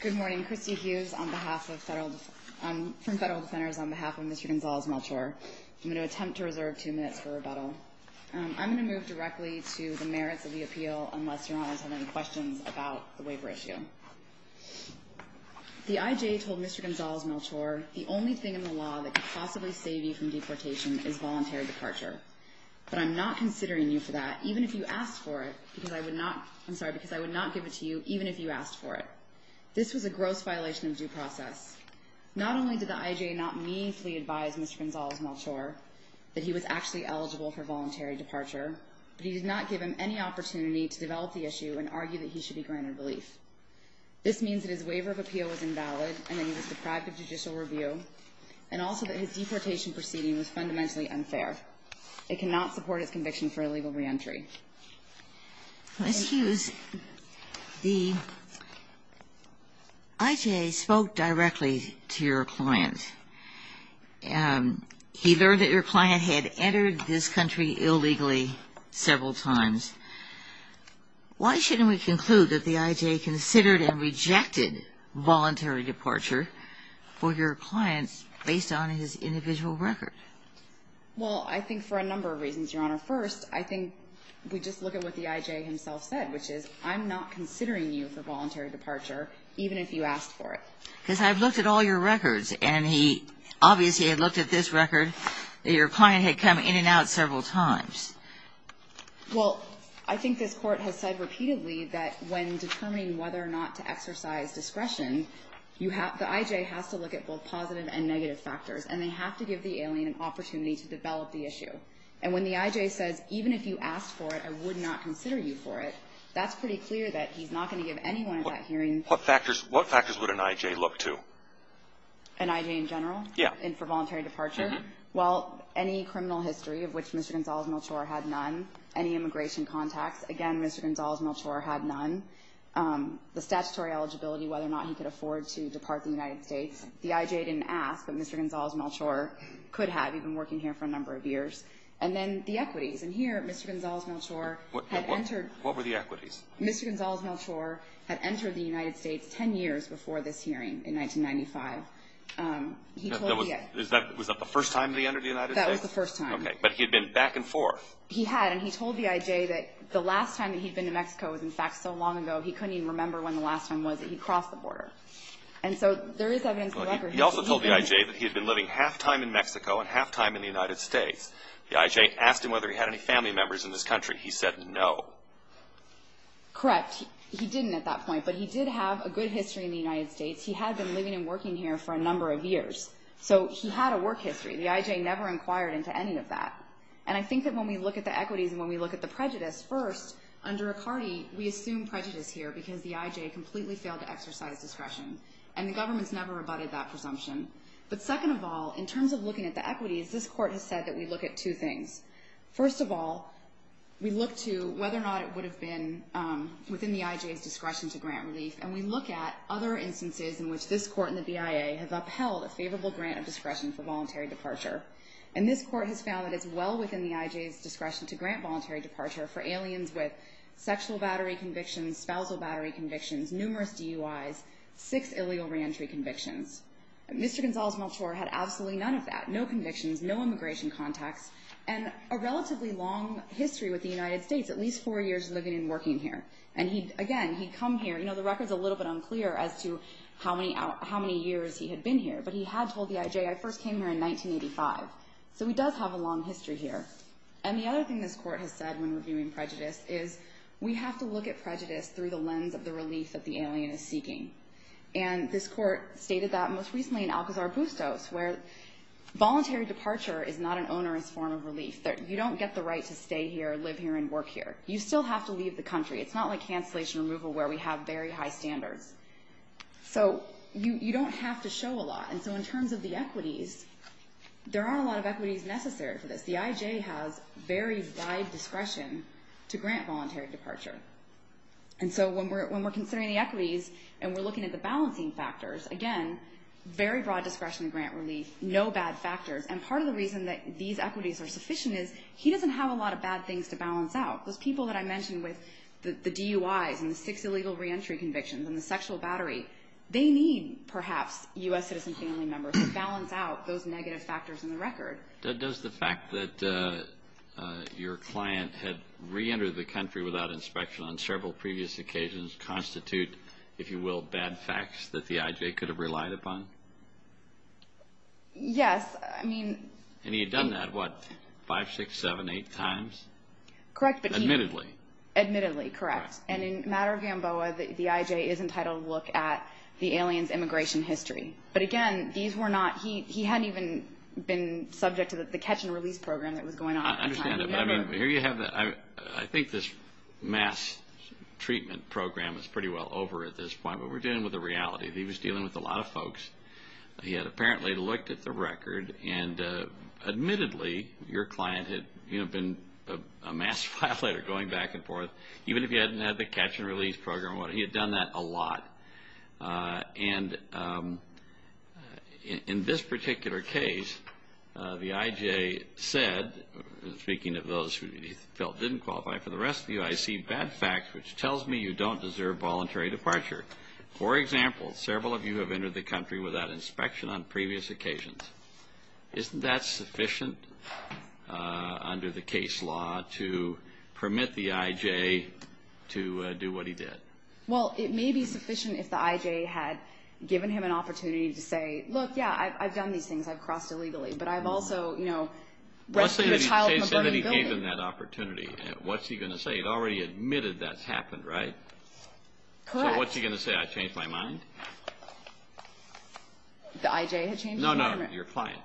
Good morning. Christy Hughes from Federal Defenders on behalf of Mr. Gonzalez-Melchor. I'm going to attempt to reserve two minutes for rebuttal. I'm going to move directly to the merits of the appeal, unless Your Honors have any questions about the waiver issue. The IJ told Mr. Gonzalez-Melchor the only thing in the law that could possibly save you from deportation is voluntary departure. But I'm not considering you for that, even if you asked for it, I'm sorry, because I would not give it to you, even if you asked for it. This was a gross violation of due process. Not only did the IJ not meaningfully advise Mr. Gonzalez-Melchor that he was actually eligible for voluntary departure, but he did not give him any opportunity to develop the issue and argue that he should be granted relief. This means that his waiver of appeal was invalid and that he was deprived of judicial review, and also that his deportation proceeding was fundamentally unfair. It cannot support his conviction for illegal reentry. Ms. Hughes, the IJ spoke directly to your client. He learned that your client had entered this country illegally several times. Why shouldn't we conclude that the IJ considered and rejected voluntary departure for your client based on his individual record? Well, I think for a number of reasons, Your Honor. First, I think we just look at what the IJ himself said, which is I'm not considering you for voluntary departure, even if you asked for it. Because I've looked at all your records, and he obviously had looked at this record that your client had come in and out several times. Well, I think this Court has said repeatedly that when determining whether or not to exercise discretion, the IJ has to look at both positive and negative factors, and they have to give the alien an opportunity to develop the issue. And when the IJ says, even if you asked for it, I would not consider you for it, that's pretty clear that he's not going to give anyone that hearing. What factors would an IJ look to? An IJ in general? Yeah. And for voluntary departure? Well, any criminal history of which Mr. Gonzales-Melchor had none, any immigration contacts, again, Mr. Gonzales-Melchor had none, the statutory eligibility, whether or not he could afford to depart the United States. The IJ didn't ask, but Mr. Gonzales-Melchor could have. We've been working here for a number of years. And then the equities. And here, Mr. Gonzales-Melchor had entered. What were the equities? Mr. Gonzales-Melchor had entered the United States 10 years before this hearing in 1995. He told the IJ. Was that the first time that he entered the United States? That was the first time. Okay. But he had been back and forth. He had. And he told the IJ that the last time that he'd been to Mexico was, in fact, so long ago, he couldn't even remember when the last time was that he crossed the border. And so there is evidence in the record. He also told the IJ that he had been living half-time in Mexico and half-time in the United States. The IJ asked him whether he had any family members in this country. He said no. Correct. He didn't at that point. But he did have a good history in the United States. He had been living and working here for a number of years. So he had a work history. The IJ never inquired into any of that. And I think that when we look at the equities and when we look at the prejudice, first, under Icardi, we assume prejudice here because the IJ completely failed to exercise discretion. And the government's never rebutted that presumption. But second of all, in terms of looking at the equities, this Court has said that we look at two things. First of all, we look to whether or not it would have been within the IJ's discretion to grant relief. And we look at other instances in which this Court and the BIA have upheld a favorable grant of discretion for voluntary departure. And this Court has found that it's well within the IJ's discretion to grant voluntary departure for aliens with sexual battery convictions, spousal battery convictions, numerous DUIs, six illegal reentry convictions. Mr. Gonzales-Meltor had absolutely none of that, no convictions, no immigration contacts, and a relatively long history with the United States, at least four years living and working here. And, again, he'd come here. You know, the record's a little bit unclear as to how many years he had been here. But he had told the IJ, I first came here in 1985. So he does have a long history here. And the other thing this Court has said when reviewing prejudice is we have to look at prejudice through the lens of the relief that the alien is seeking. And this Court stated that most recently in Alcazar Bustos where voluntary departure is not an onerous form of relief. You don't get the right to stay here, live here, and work here. You still have to leave the country. It's not like cancellation removal where we have very high standards. So you don't have to show a lot. And so in terms of the equities, there aren't a lot of equities necessary for this. The IJ has very wide discretion to grant voluntary departure. And so when we're considering the equities and we're looking at the balancing factors, again, very broad discretion in grant relief, no bad factors. And part of the reason that these equities are sufficient is he doesn't have a lot of bad things to balance out. Those people that I mentioned with the DUIs and the six illegal reentry convictions and the sexual battery, they need, perhaps, U.S. citizen family members to balance out those negative factors in the record. Does the fact that your client had reentered the country without inspection on several previous occasions constitute, if you will, bad facts that the IJ could have relied upon? Yes. And he had done that, what, five, six, seven, eight times? Correct. Admittedly. Admittedly, correct. And in a matter of Gamboa, the IJ is entitled to look at the alien's immigration history. But, again, these were not – he hadn't even been subject to the catch-and-release program that was going on. I understand. I mean, here you have – I think this mass treatment program is pretty well over at this point, but we're dealing with the reality that he was dealing with a lot of folks. He had apparently looked at the record, and admittedly, your client had, you know, been amassed by a letter going back and forth, even if he hadn't had the catch-and-release program. He had done that a lot. And in this particular case, the IJ said, speaking of those who he felt didn't qualify, for the rest of you, I see bad facts which tells me you don't deserve voluntary departure. For example, several of you have entered the country without inspection on previous occasions. Isn't that sufficient under the case law to permit the IJ to do what he did? Well, it may be sufficient if the IJ had given him an opportunity to say, look, yeah, I've done these things. I've crossed illegally. But I've also, you know, rescued a child from a burning building. What's the case that he gave him that opportunity? What's he going to say? He'd already admitted that's happened, right? Correct. So what's he going to say? I changed my mind? The IJ had changed his mind? No, no, your client.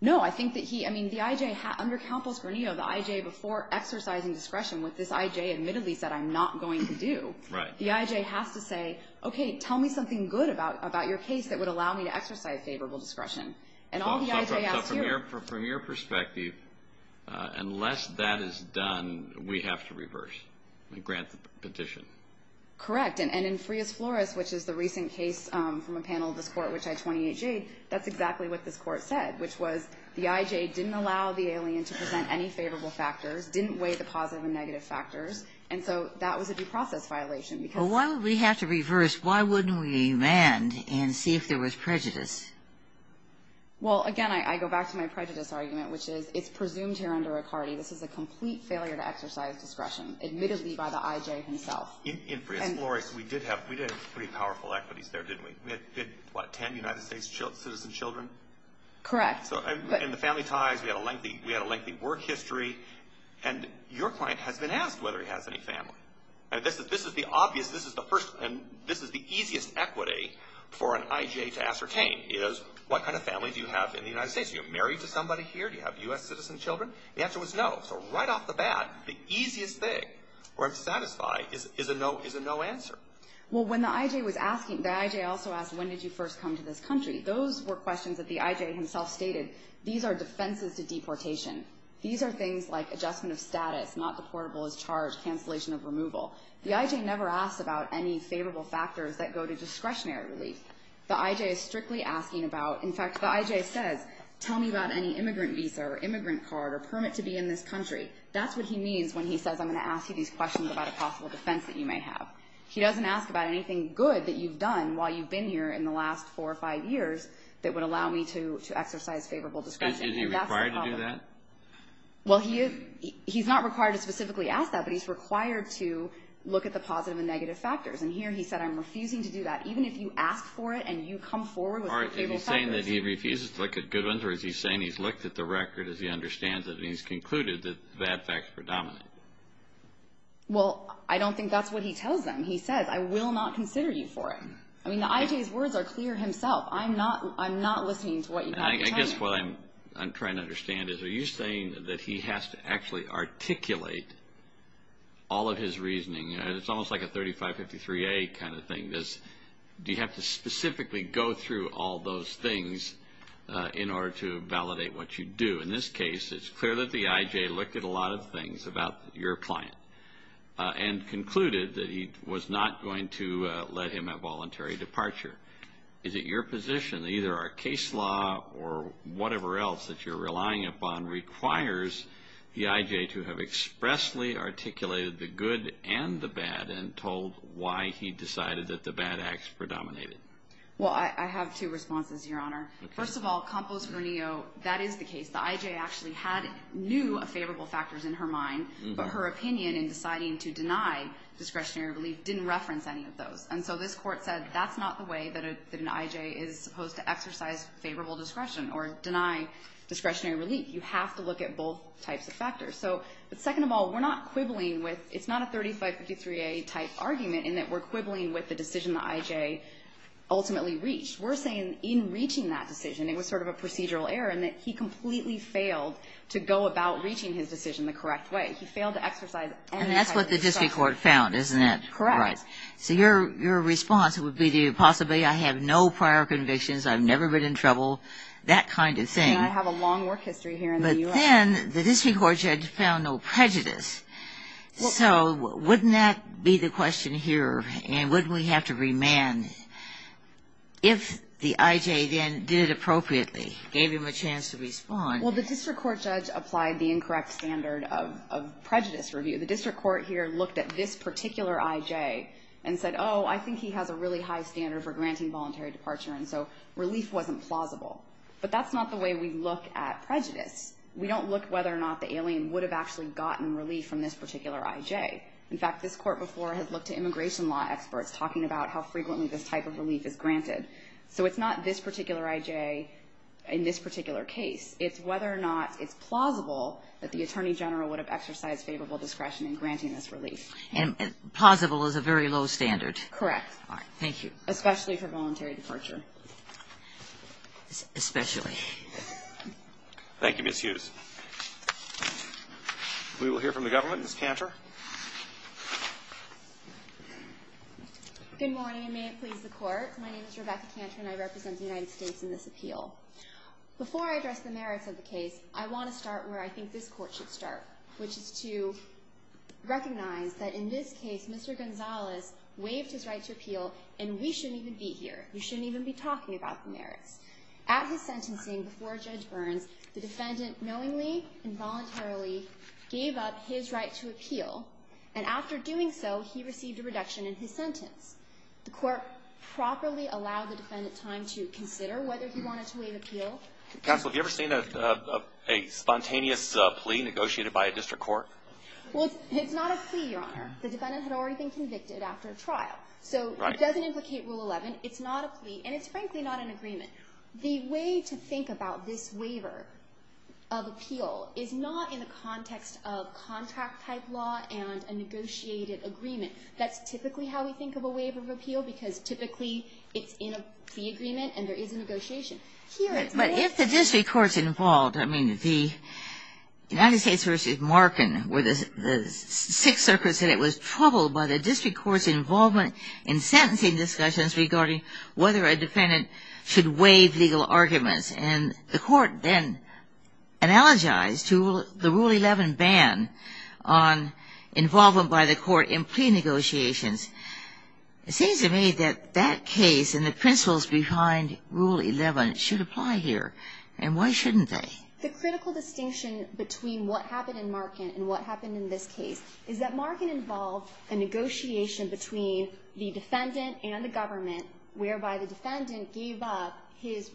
No, I think that he – I mean, the IJ – under Campos-Granillo, the IJ, before exercising discretion, what this IJ admittedly said, I'm not going to do. Right. The IJ has to say, okay, tell me something good about your case that would allow me to exercise favorable discretion. And all the IJ has to do – So from your perspective, unless that is done, we have to reverse and grant the petition? Correct. And in Frias-Flores, which is the recent case from a panel of this court, which had 28-J, that's exactly what this court said, which was the IJ didn't allow the alien to present any favorable factors, didn't weigh the positive and negative factors, and so that was a due process violation. Well, why would we have to reverse? Why wouldn't we amend and see if there was prejudice? Well, again, I go back to my prejudice argument, which is it's presumed here under Riccardi this is a complete failure to exercise discretion, admittedly by the IJ himself. In Frias-Flores, we did have pretty powerful equities there, didn't we? We had, what, 10 United States citizen children? Correct. And the family ties, we had a lengthy work history. And your client has been asked whether he has any family. This is the obvious – this is the easiest equity for an IJ to ascertain, is what kind of family do you have in the United States? Are you married to somebody here? Do you have U.S. citizen children? The answer was no. So right off the bat, the easiest thing for him to satisfy is a no answer. Well, when the IJ was asking – the IJ also asked, when did you first come to this country? Those were questions that the IJ himself stated, these are defenses to deportation. These are things like adjustment of status, not deportable as charged, cancellation of removal. The IJ never asks about any favorable factors that go to discretionary relief. The IJ is strictly asking about – in fact, the IJ says, tell me about any immigrant visa or immigrant card or permit to be in this country. That's what he means when he says I'm going to ask you these questions about a possible defense that you may have. He doesn't ask about anything good that you've done while you've been here in the last four or five years that would allow me to exercise favorable discretion. Is he required to do that? Well, he is – he's not required to specifically ask that, but he's required to look at the positive and negative factors. And here he said, I'm refusing to do that. Even if you ask for it and you come forward with favorable factors. All right, is he saying that he refuses to look at good ones, or is he saying he's looked at the record as he understands it and he's concluded that that fact is predominant? Well, I don't think that's what he tells them. He says, I will not consider you for it. I mean, the IJ's words are clear himself. I'm not listening to what you have to tell me. I guess what I'm trying to understand is, are you saying that he has to actually articulate all of his reasoning? It's almost like a 3553A kind of thing. Do you have to specifically go through all those things in order to validate what you do? In this case, it's clear that the IJ looked at a lot of things about your client and concluded that he was not going to let him have voluntary departure. Is it your position that either our case law or whatever else that you're relying upon requires the IJ to have expressly articulated the good and the bad and told why he decided that the bad acts predominated? Well, I have two responses, Your Honor. First of all, Compost-Ranillo, that is the case. The IJ actually knew of favorable factors in her mind, but her opinion in deciding to deny discretionary relief didn't reference any of those. And so this court said that's not the way that an IJ is supposed to exercise favorable discretion or deny discretionary relief. You have to look at both types of factors. But second of all, we're not quibbling withóit's not a 3553A type argument in that we're quibbling with the decision the IJ ultimately reached. We're saying in reaching that decision it was sort of a procedural error and that he completely failed to go about reaching his decision the correct way. He failed to exercise any type of discretion. And that's what the district court found, isn't it? Correct. So your response would be to possibly I have no prior convictions, I've never been in trouble, that kind of thing. And I have a long work history here in the U.S. But then the district court judge found no prejudice. So wouldn't that be the question here? And wouldn't we have to remand? If the IJ then did it appropriately, gave him a chance to respondó Well, the district court judge applied the incorrect standard of prejudice review. The district court here looked at this particular IJ and said, oh, I think he has a really high standard for granting voluntary departure. And so relief wasn't plausible. But that's not the way we look at prejudice. We don't look whether or not the alien would have actually gotten relief from this particular IJ. In fact, this court before had looked at immigration law experts talking about how frequently this type of relief is granted. So it's not this particular IJ in this particular case. It's whether or not it's plausible that the attorney general would have exercised favorable discretion in granting this relief. And plausible is a very low standard. Correct. All right. Thank you. Especially for voluntary departure. Especially. Thank you, Ms. Hughes. We will hear from the government. Ms. Cantor. Good morning, and may it please the Court. My name is Rebecca Cantor, and I represent the United States in this appeal. Before I address the merits of the case, I want to start where I think this Court should start, which is to recognize that in this case, Mr. Gonzalez waived his right to appeal, and we shouldn't even be here. We shouldn't even be talking about the merits. At his sentencing before Judge Burns, the defendant knowingly and voluntarily gave up his right to appeal, and after doing so, he received a reduction in his sentence. The Court properly allowed the defendant time to consider whether he wanted to waive appeal. Counsel, have you ever seen a spontaneous plea negotiated by a district court? Well, it's not a plea, Your Honor. The defendant had already been convicted after a trial. So it doesn't implicate Rule 11. It's not a plea, and it's frankly not an agreement. The way to think about this waiver of appeal is not in the context of contract-type law and a negotiated agreement. That's typically how we think of a waiver of appeal, because typically it's in a plea agreement and there is a negotiation. Here, it's not. But if the district court's involved, I mean, the United States versus Markin, where the Sixth Circuit said it was troubled by the district court's involvement in sentencing discussions regarding whether a defendant should waive legal arguments. And the Court then analogized to the Rule 11 ban on involvement by the Court in plea negotiations. It seems to me that that case and the principles behind Rule 11 should apply here. And why shouldn't they? The critical distinction between what happened in Markin and what happened in this case is that Markin involved a negotiation between the defendant and the government, whereby the defendant gave up his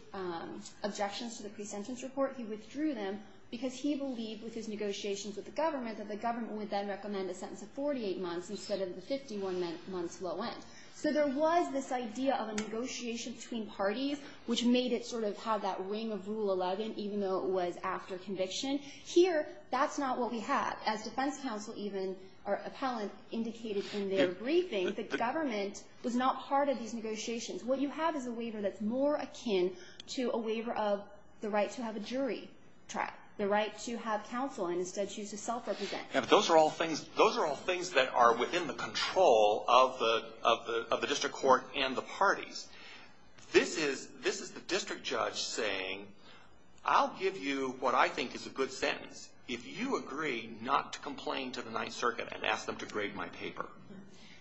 objections to the pre-sentence report. He withdrew them because he believed with his negotiations with the government that the government would then recommend a sentence of 48 months instead of the 51 months low end. So there was this idea of a negotiation between parties, which made it sort of have that ring of Rule 11, even though it was after conviction. Here, that's not what we have. As defense counsel even, or appellant, indicated in their briefing, the government was not part of these negotiations. What you have is a waiver that's more akin to a waiver of the right to have a jury track, the right to have counsel and instead choose to self-represent. Yeah, but those are all things that are within the control of the district court and the parties. This is the district judge saying, I'll give you what I think is a good sentence. If you agree not to complain to the Ninth Circuit and ask them to grade my paper.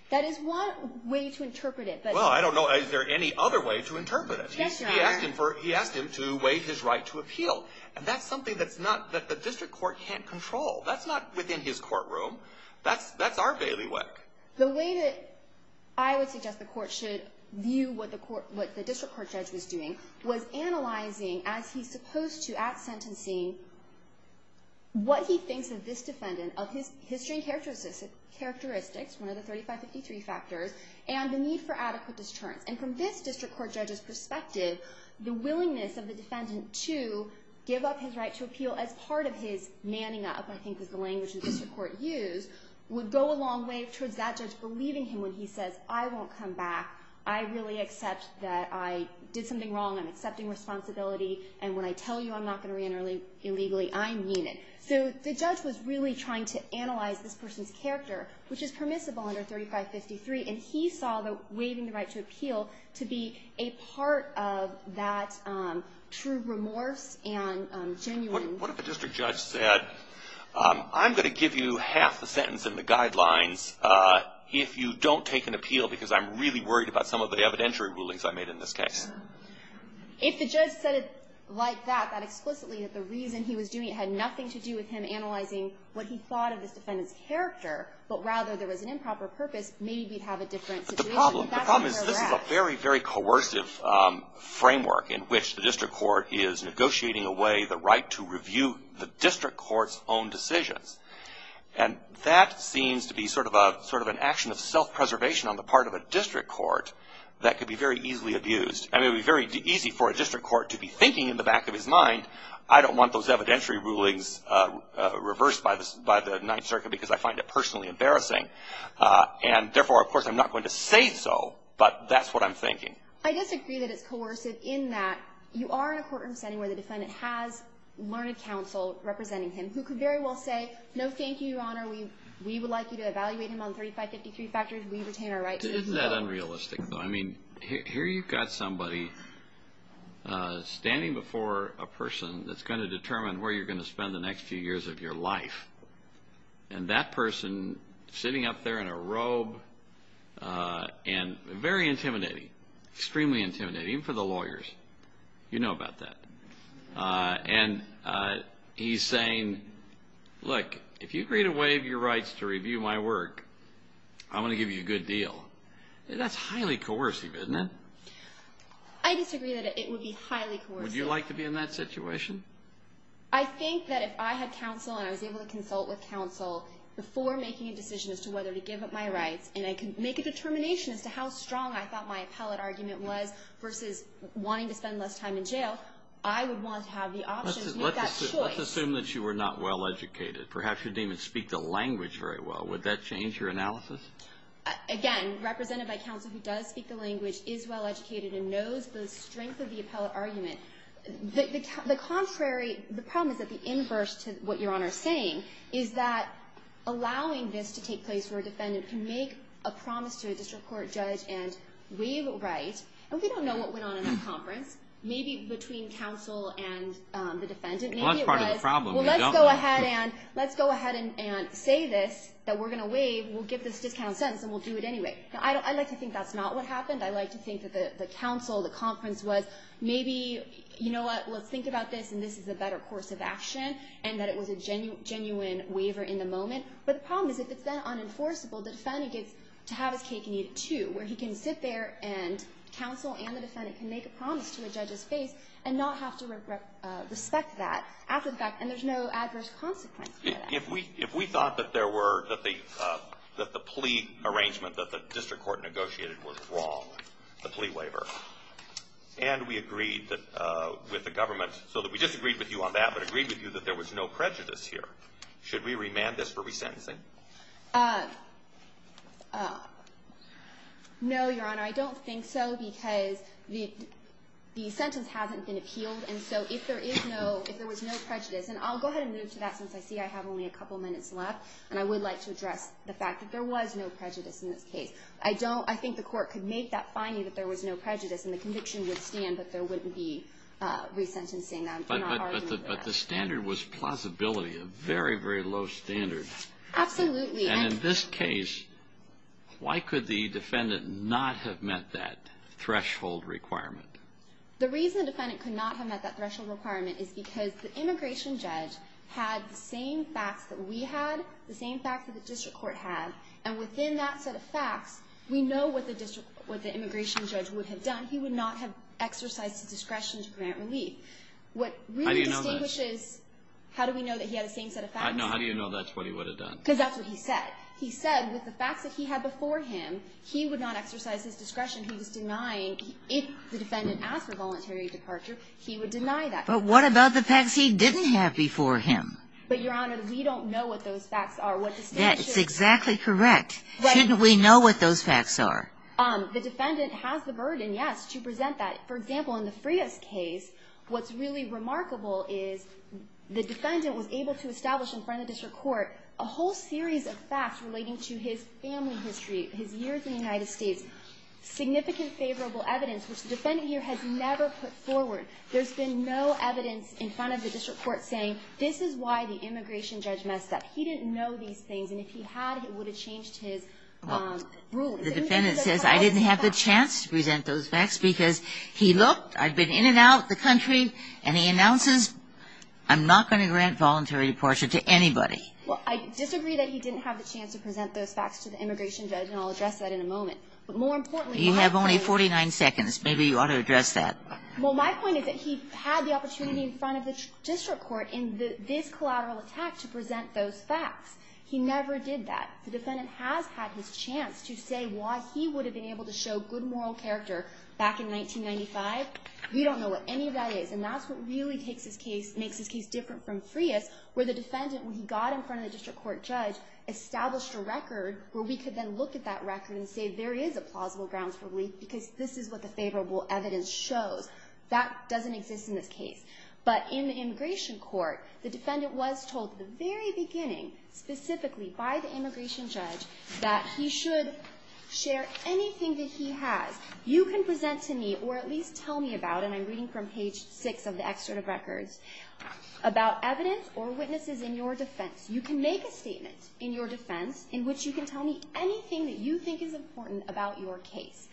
That is one way to interpret it. Well, I don't know, is there any other way to interpret it? He asked him to waive his right to appeal. And that's something that the district court can't control. That's not within his courtroom. That's our bailiwick. The way that I would suggest the court should view what the district court judge was doing was analyzing, as he's supposed to at sentencing, what he thinks of this defendant, of his history and characteristics, one of the 3553 factors, and the need for adequate deterrence. And from this district court judge's perspective, the willingness of the defendant to give up his right to appeal as part of his manning up, I think is the language the district court used, would go a long way towards that judge believing him when he says, I won't come back. I really accept that I did something wrong. I'm accepting responsibility. And when I tell you I'm not going to reenter illegally, I mean it. So the judge was really trying to analyze this person's character, which is permissible under 3553. And he saw waiving the right to appeal to be a part of that true remorse and genuine. What if the district judge said, I'm going to give you half the sentence in the guidelines if you don't take an appeal, because I'm really worried about some of the evidentiary rulings I made in this case? If the judge said it like that, that explicitly, that the reason he was doing it had nothing to do with him analyzing what he thought of this defendant's character, but rather there was an improper purpose, maybe we'd have a different situation. But the problem is this is a very, very coercive framework in which the district court is negotiating away the right to review the district court's own decisions. And that seems to be sort of an action of self-preservation on the part of a district court that could be very easily abused. And it would be very easy for a district court to be thinking in the back of his mind, I don't want those evidentiary rulings reversed by the Ninth Circuit because I find it personally embarrassing. And therefore, of course, I'm not going to say so, but that's what I'm thinking. I disagree that it's coercive in that you are in a courtroom setting where the defendant has learned counsel representing him who could very well say, no, thank you, Your Honor, we would like you to evaluate him on 3553 factors, we retain our right to review. Isn't that unrealistic, though? I mean, here you've got somebody standing before a person that's going to determine where you're going to spend the next few years of your life. And that person sitting up there in a robe and very intimidating, extremely intimidating, even for the lawyers. You know about that. And he's saying, look, if you agree to waive your rights to review my work, I'm going to give you a good deal. That's highly coercive, isn't it? I disagree that it would be highly coercive. Would you like to be in that situation? I think that if I had counsel and I was able to consult with counsel before making a decision as to whether to give up my rights and I could make a determination as to how strong I thought my appellate argument was versus wanting to spend less time in jail, I would want to have the option to make that choice. Let's assume that you were not well-educated. Perhaps you didn't even speak the language very well. Would that change your analysis? Again, represented by counsel who does speak the language, is well-educated and knows the strength of the appellate argument. The contrary, the problem is that the inverse to what Your Honor is saying is that allowing this to take place where a defendant can make a promise to a district court judge and waive a right, and we don't know what went on in that conference, maybe between counsel and the defendant. That's part of the problem. Let's go ahead and say this, that we're going to waive, we'll give this discount sentence and we'll do it anyway. I'd like to think that's not what happened. I'd like to think that the counsel, the conference was maybe, you know what, let's think about this and this is a better course of action and that it was a genuine waiver in the moment. But the problem is if it's then unenforceable, the defendant gets to have his cake and eat it too, where he can sit there and counsel and the defendant can make a promise to a judge's face and not have to respect that after the fact, and there's no adverse consequence for that. If we thought that the plea arrangement that the district court negotiated was wrong, the plea waiver, and we agreed with the government, so that we disagreed with you on that but agreed with you that there was no prejudice here, should we remand this for resentencing? No, Your Honor. I don't think so because the sentence hasn't been appealed, and so if there is no, if there was no prejudice, and I'll go ahead and move to that since I see I have only a couple minutes left, and I would like to address the fact that there was no prejudice in this case. I don't, I think the court could make that finding that there was no prejudice and the conviction would stand that there wouldn't be resentencing. But the standard was plausibility, a very, very low standard. Absolutely. And in this case, why could the defendant not have met that threshold requirement? The reason the defendant could not have met that threshold requirement is because the immigration judge had the same facts that we had, the same facts that the district court had, and within that set of facts, we know what the district, what the immigration judge would have done. He would not have exercised his discretion to grant relief. How do you know that? What really distinguishes, how do we know that he had the same set of facts? No, how do you know that's what he would have done? Because that's what he said. He said with the facts that he had before him, he would not exercise his discretion. He was denying, if the defendant asked for voluntary departure, he would deny that. But what about the facts he didn't have before him? But, Your Honor, we don't know what those facts are. That is exactly correct. Shouldn't we know what those facts are? The defendant has the burden, yes, to present that. For example, in the Frias case, what's really remarkable is the defendant was able to establish in front of the district court a whole series of facts relating to his family history, his years in the United States, significant favorable evidence, which the defendant here has never put forward. There's been no evidence in front of the district court saying, this is why the immigration judge messed up. He didn't know these things, and if he had, it would have changed his ruling. The defendant says, I didn't have the chance to present those facts because he looked. I've been in and out of the country, and he announces, I'm not going to grant voluntary departure to anybody. Well, I disagree that he didn't have the chance to present those facts to the immigration judge, and I'll address that in a moment. But more importantly, what I'm saying is you have only 49 seconds. Maybe you ought to address that. Well, my point is that he had the opportunity in front of the district court in this collateral attack to present those facts. He never did that. The defendant has had his chance to say why he would have been able to show good moral character back in 1995. We don't know what any of that is, and that's what really makes this case different from Frias, where the defendant, when he got in front of the district court judge, established a record where we could then look at that record and say, there is a plausible grounds for belief because this is what the favorable evidence shows. That doesn't exist in this case. But in the immigration court, the defendant was told at the very beginning, specifically by the immigration judge, that he should share anything that he has. You can present to me or at least tell me about, and I'm reading from page 6 of the excerpt of records, about evidence or witnesses in your defense. You can make a statement in your defense in which you can tell me anything that you think is important about your case.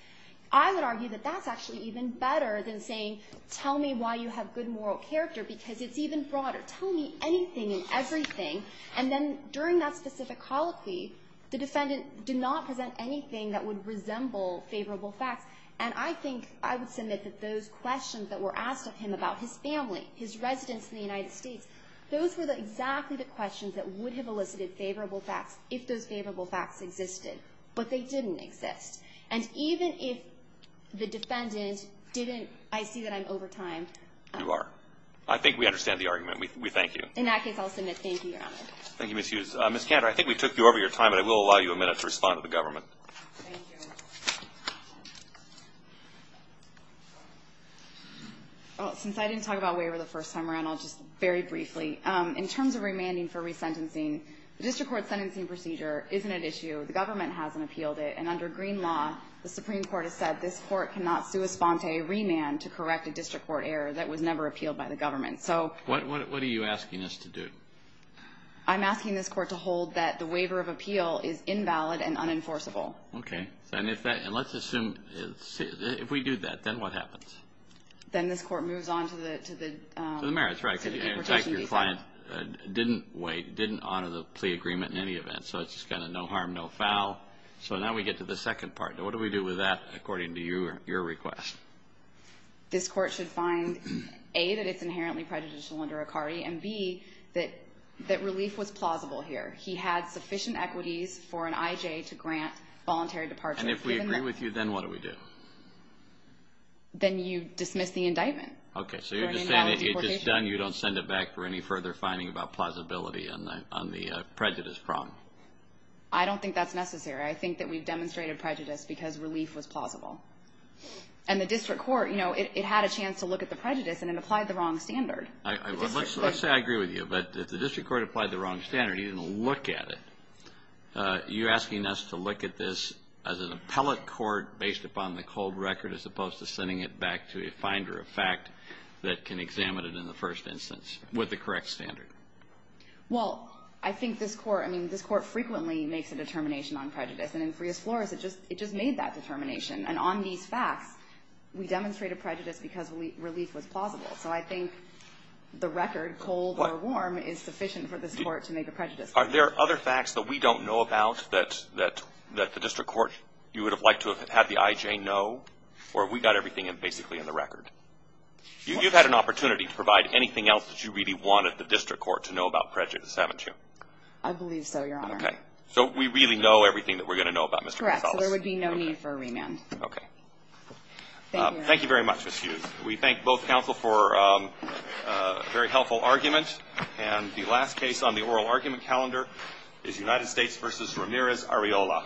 I would argue that that's actually even better than saying tell me why you have good moral character because it's even broader. Tell me anything and everything. And then during that specific colloquy, the defendant did not present anything that would resemble favorable facts. And I think I would submit that those questions that were asked of him about his family, his residence in the United States, those were exactly the questions that would have elicited favorable facts if those favorable facts existed. But they didn't exist. And even if the defendant didn't, I see that I'm over time. You are. I think we understand the argument. We thank you. In that case, I'll submit thank you, Your Honor. Thank you, Ms. Hughes. Ms. Cantor, I think we took you over your time, but I will allow you a minute to respond to the government. Thank you. Well, since I didn't talk about waiver the first time around, I'll just very briefly. In terms of remanding for resentencing, the district court sentencing procedure isn't at issue. The government hasn't appealed it. And under green law, the Supreme Court has said this court cannot sui What are you asking us to do? I'm asking this court to hold that the waiver of appeal is invalid and unenforceable. Okay. And let's assume if we do that, then what happens? Then this court moves on to the merits. Right. In fact, your client didn't wait, didn't honor the plea agreement in any event, so it's just kind of no harm, no foul. So now we get to the second part. Now, what do we do with that according to your request? This court should find, A, that it's inherently prejudicial under ICARI, and, B, that relief was plausible here. He had sufficient equities for an IJ to grant voluntary departure. And if we agree with you, then what do we do? Then you dismiss the indictment. Okay. So you're just saying it's done, you don't send it back for any further finding about plausibility on the prejudice problem. I don't think that's necessary. I think that we've demonstrated prejudice because relief was plausible. And the district court, you know, it had a chance to look at the prejudice and it applied the wrong standard. Let's say I agree with you, but if the district court applied the wrong standard, you didn't look at it, you're asking us to look at this as an appellate court based upon the cold record as opposed to sending it back to a finder of fact that can examine it in the first instance with the correct standard. Well, I think this court, I mean, this court frequently makes a determination on prejudice. And in Frias-Flores, it just made that determination. And on these facts, we demonstrated prejudice because relief was plausible. So I think the record, cold or warm, is sufficient for this court to make a prejudice. Are there other facts that we don't know about that the district court, you would have liked to have had the IJ know, or we got everything basically in the record? You've had an opportunity to provide anything else that you really wanted the district court to know about prejudice, haven't you? I believe so, Your Honor. Okay. So we really know everything that we're going to know about Mr. Gonzales? Correct. So there would be no need for a remand. Okay. Thank you. Thank you very much, Ms. Hughes. We thank both counsel for a very helpful argument. And the last case on the oral argument calendar is United States v. Ramirez-Ariola.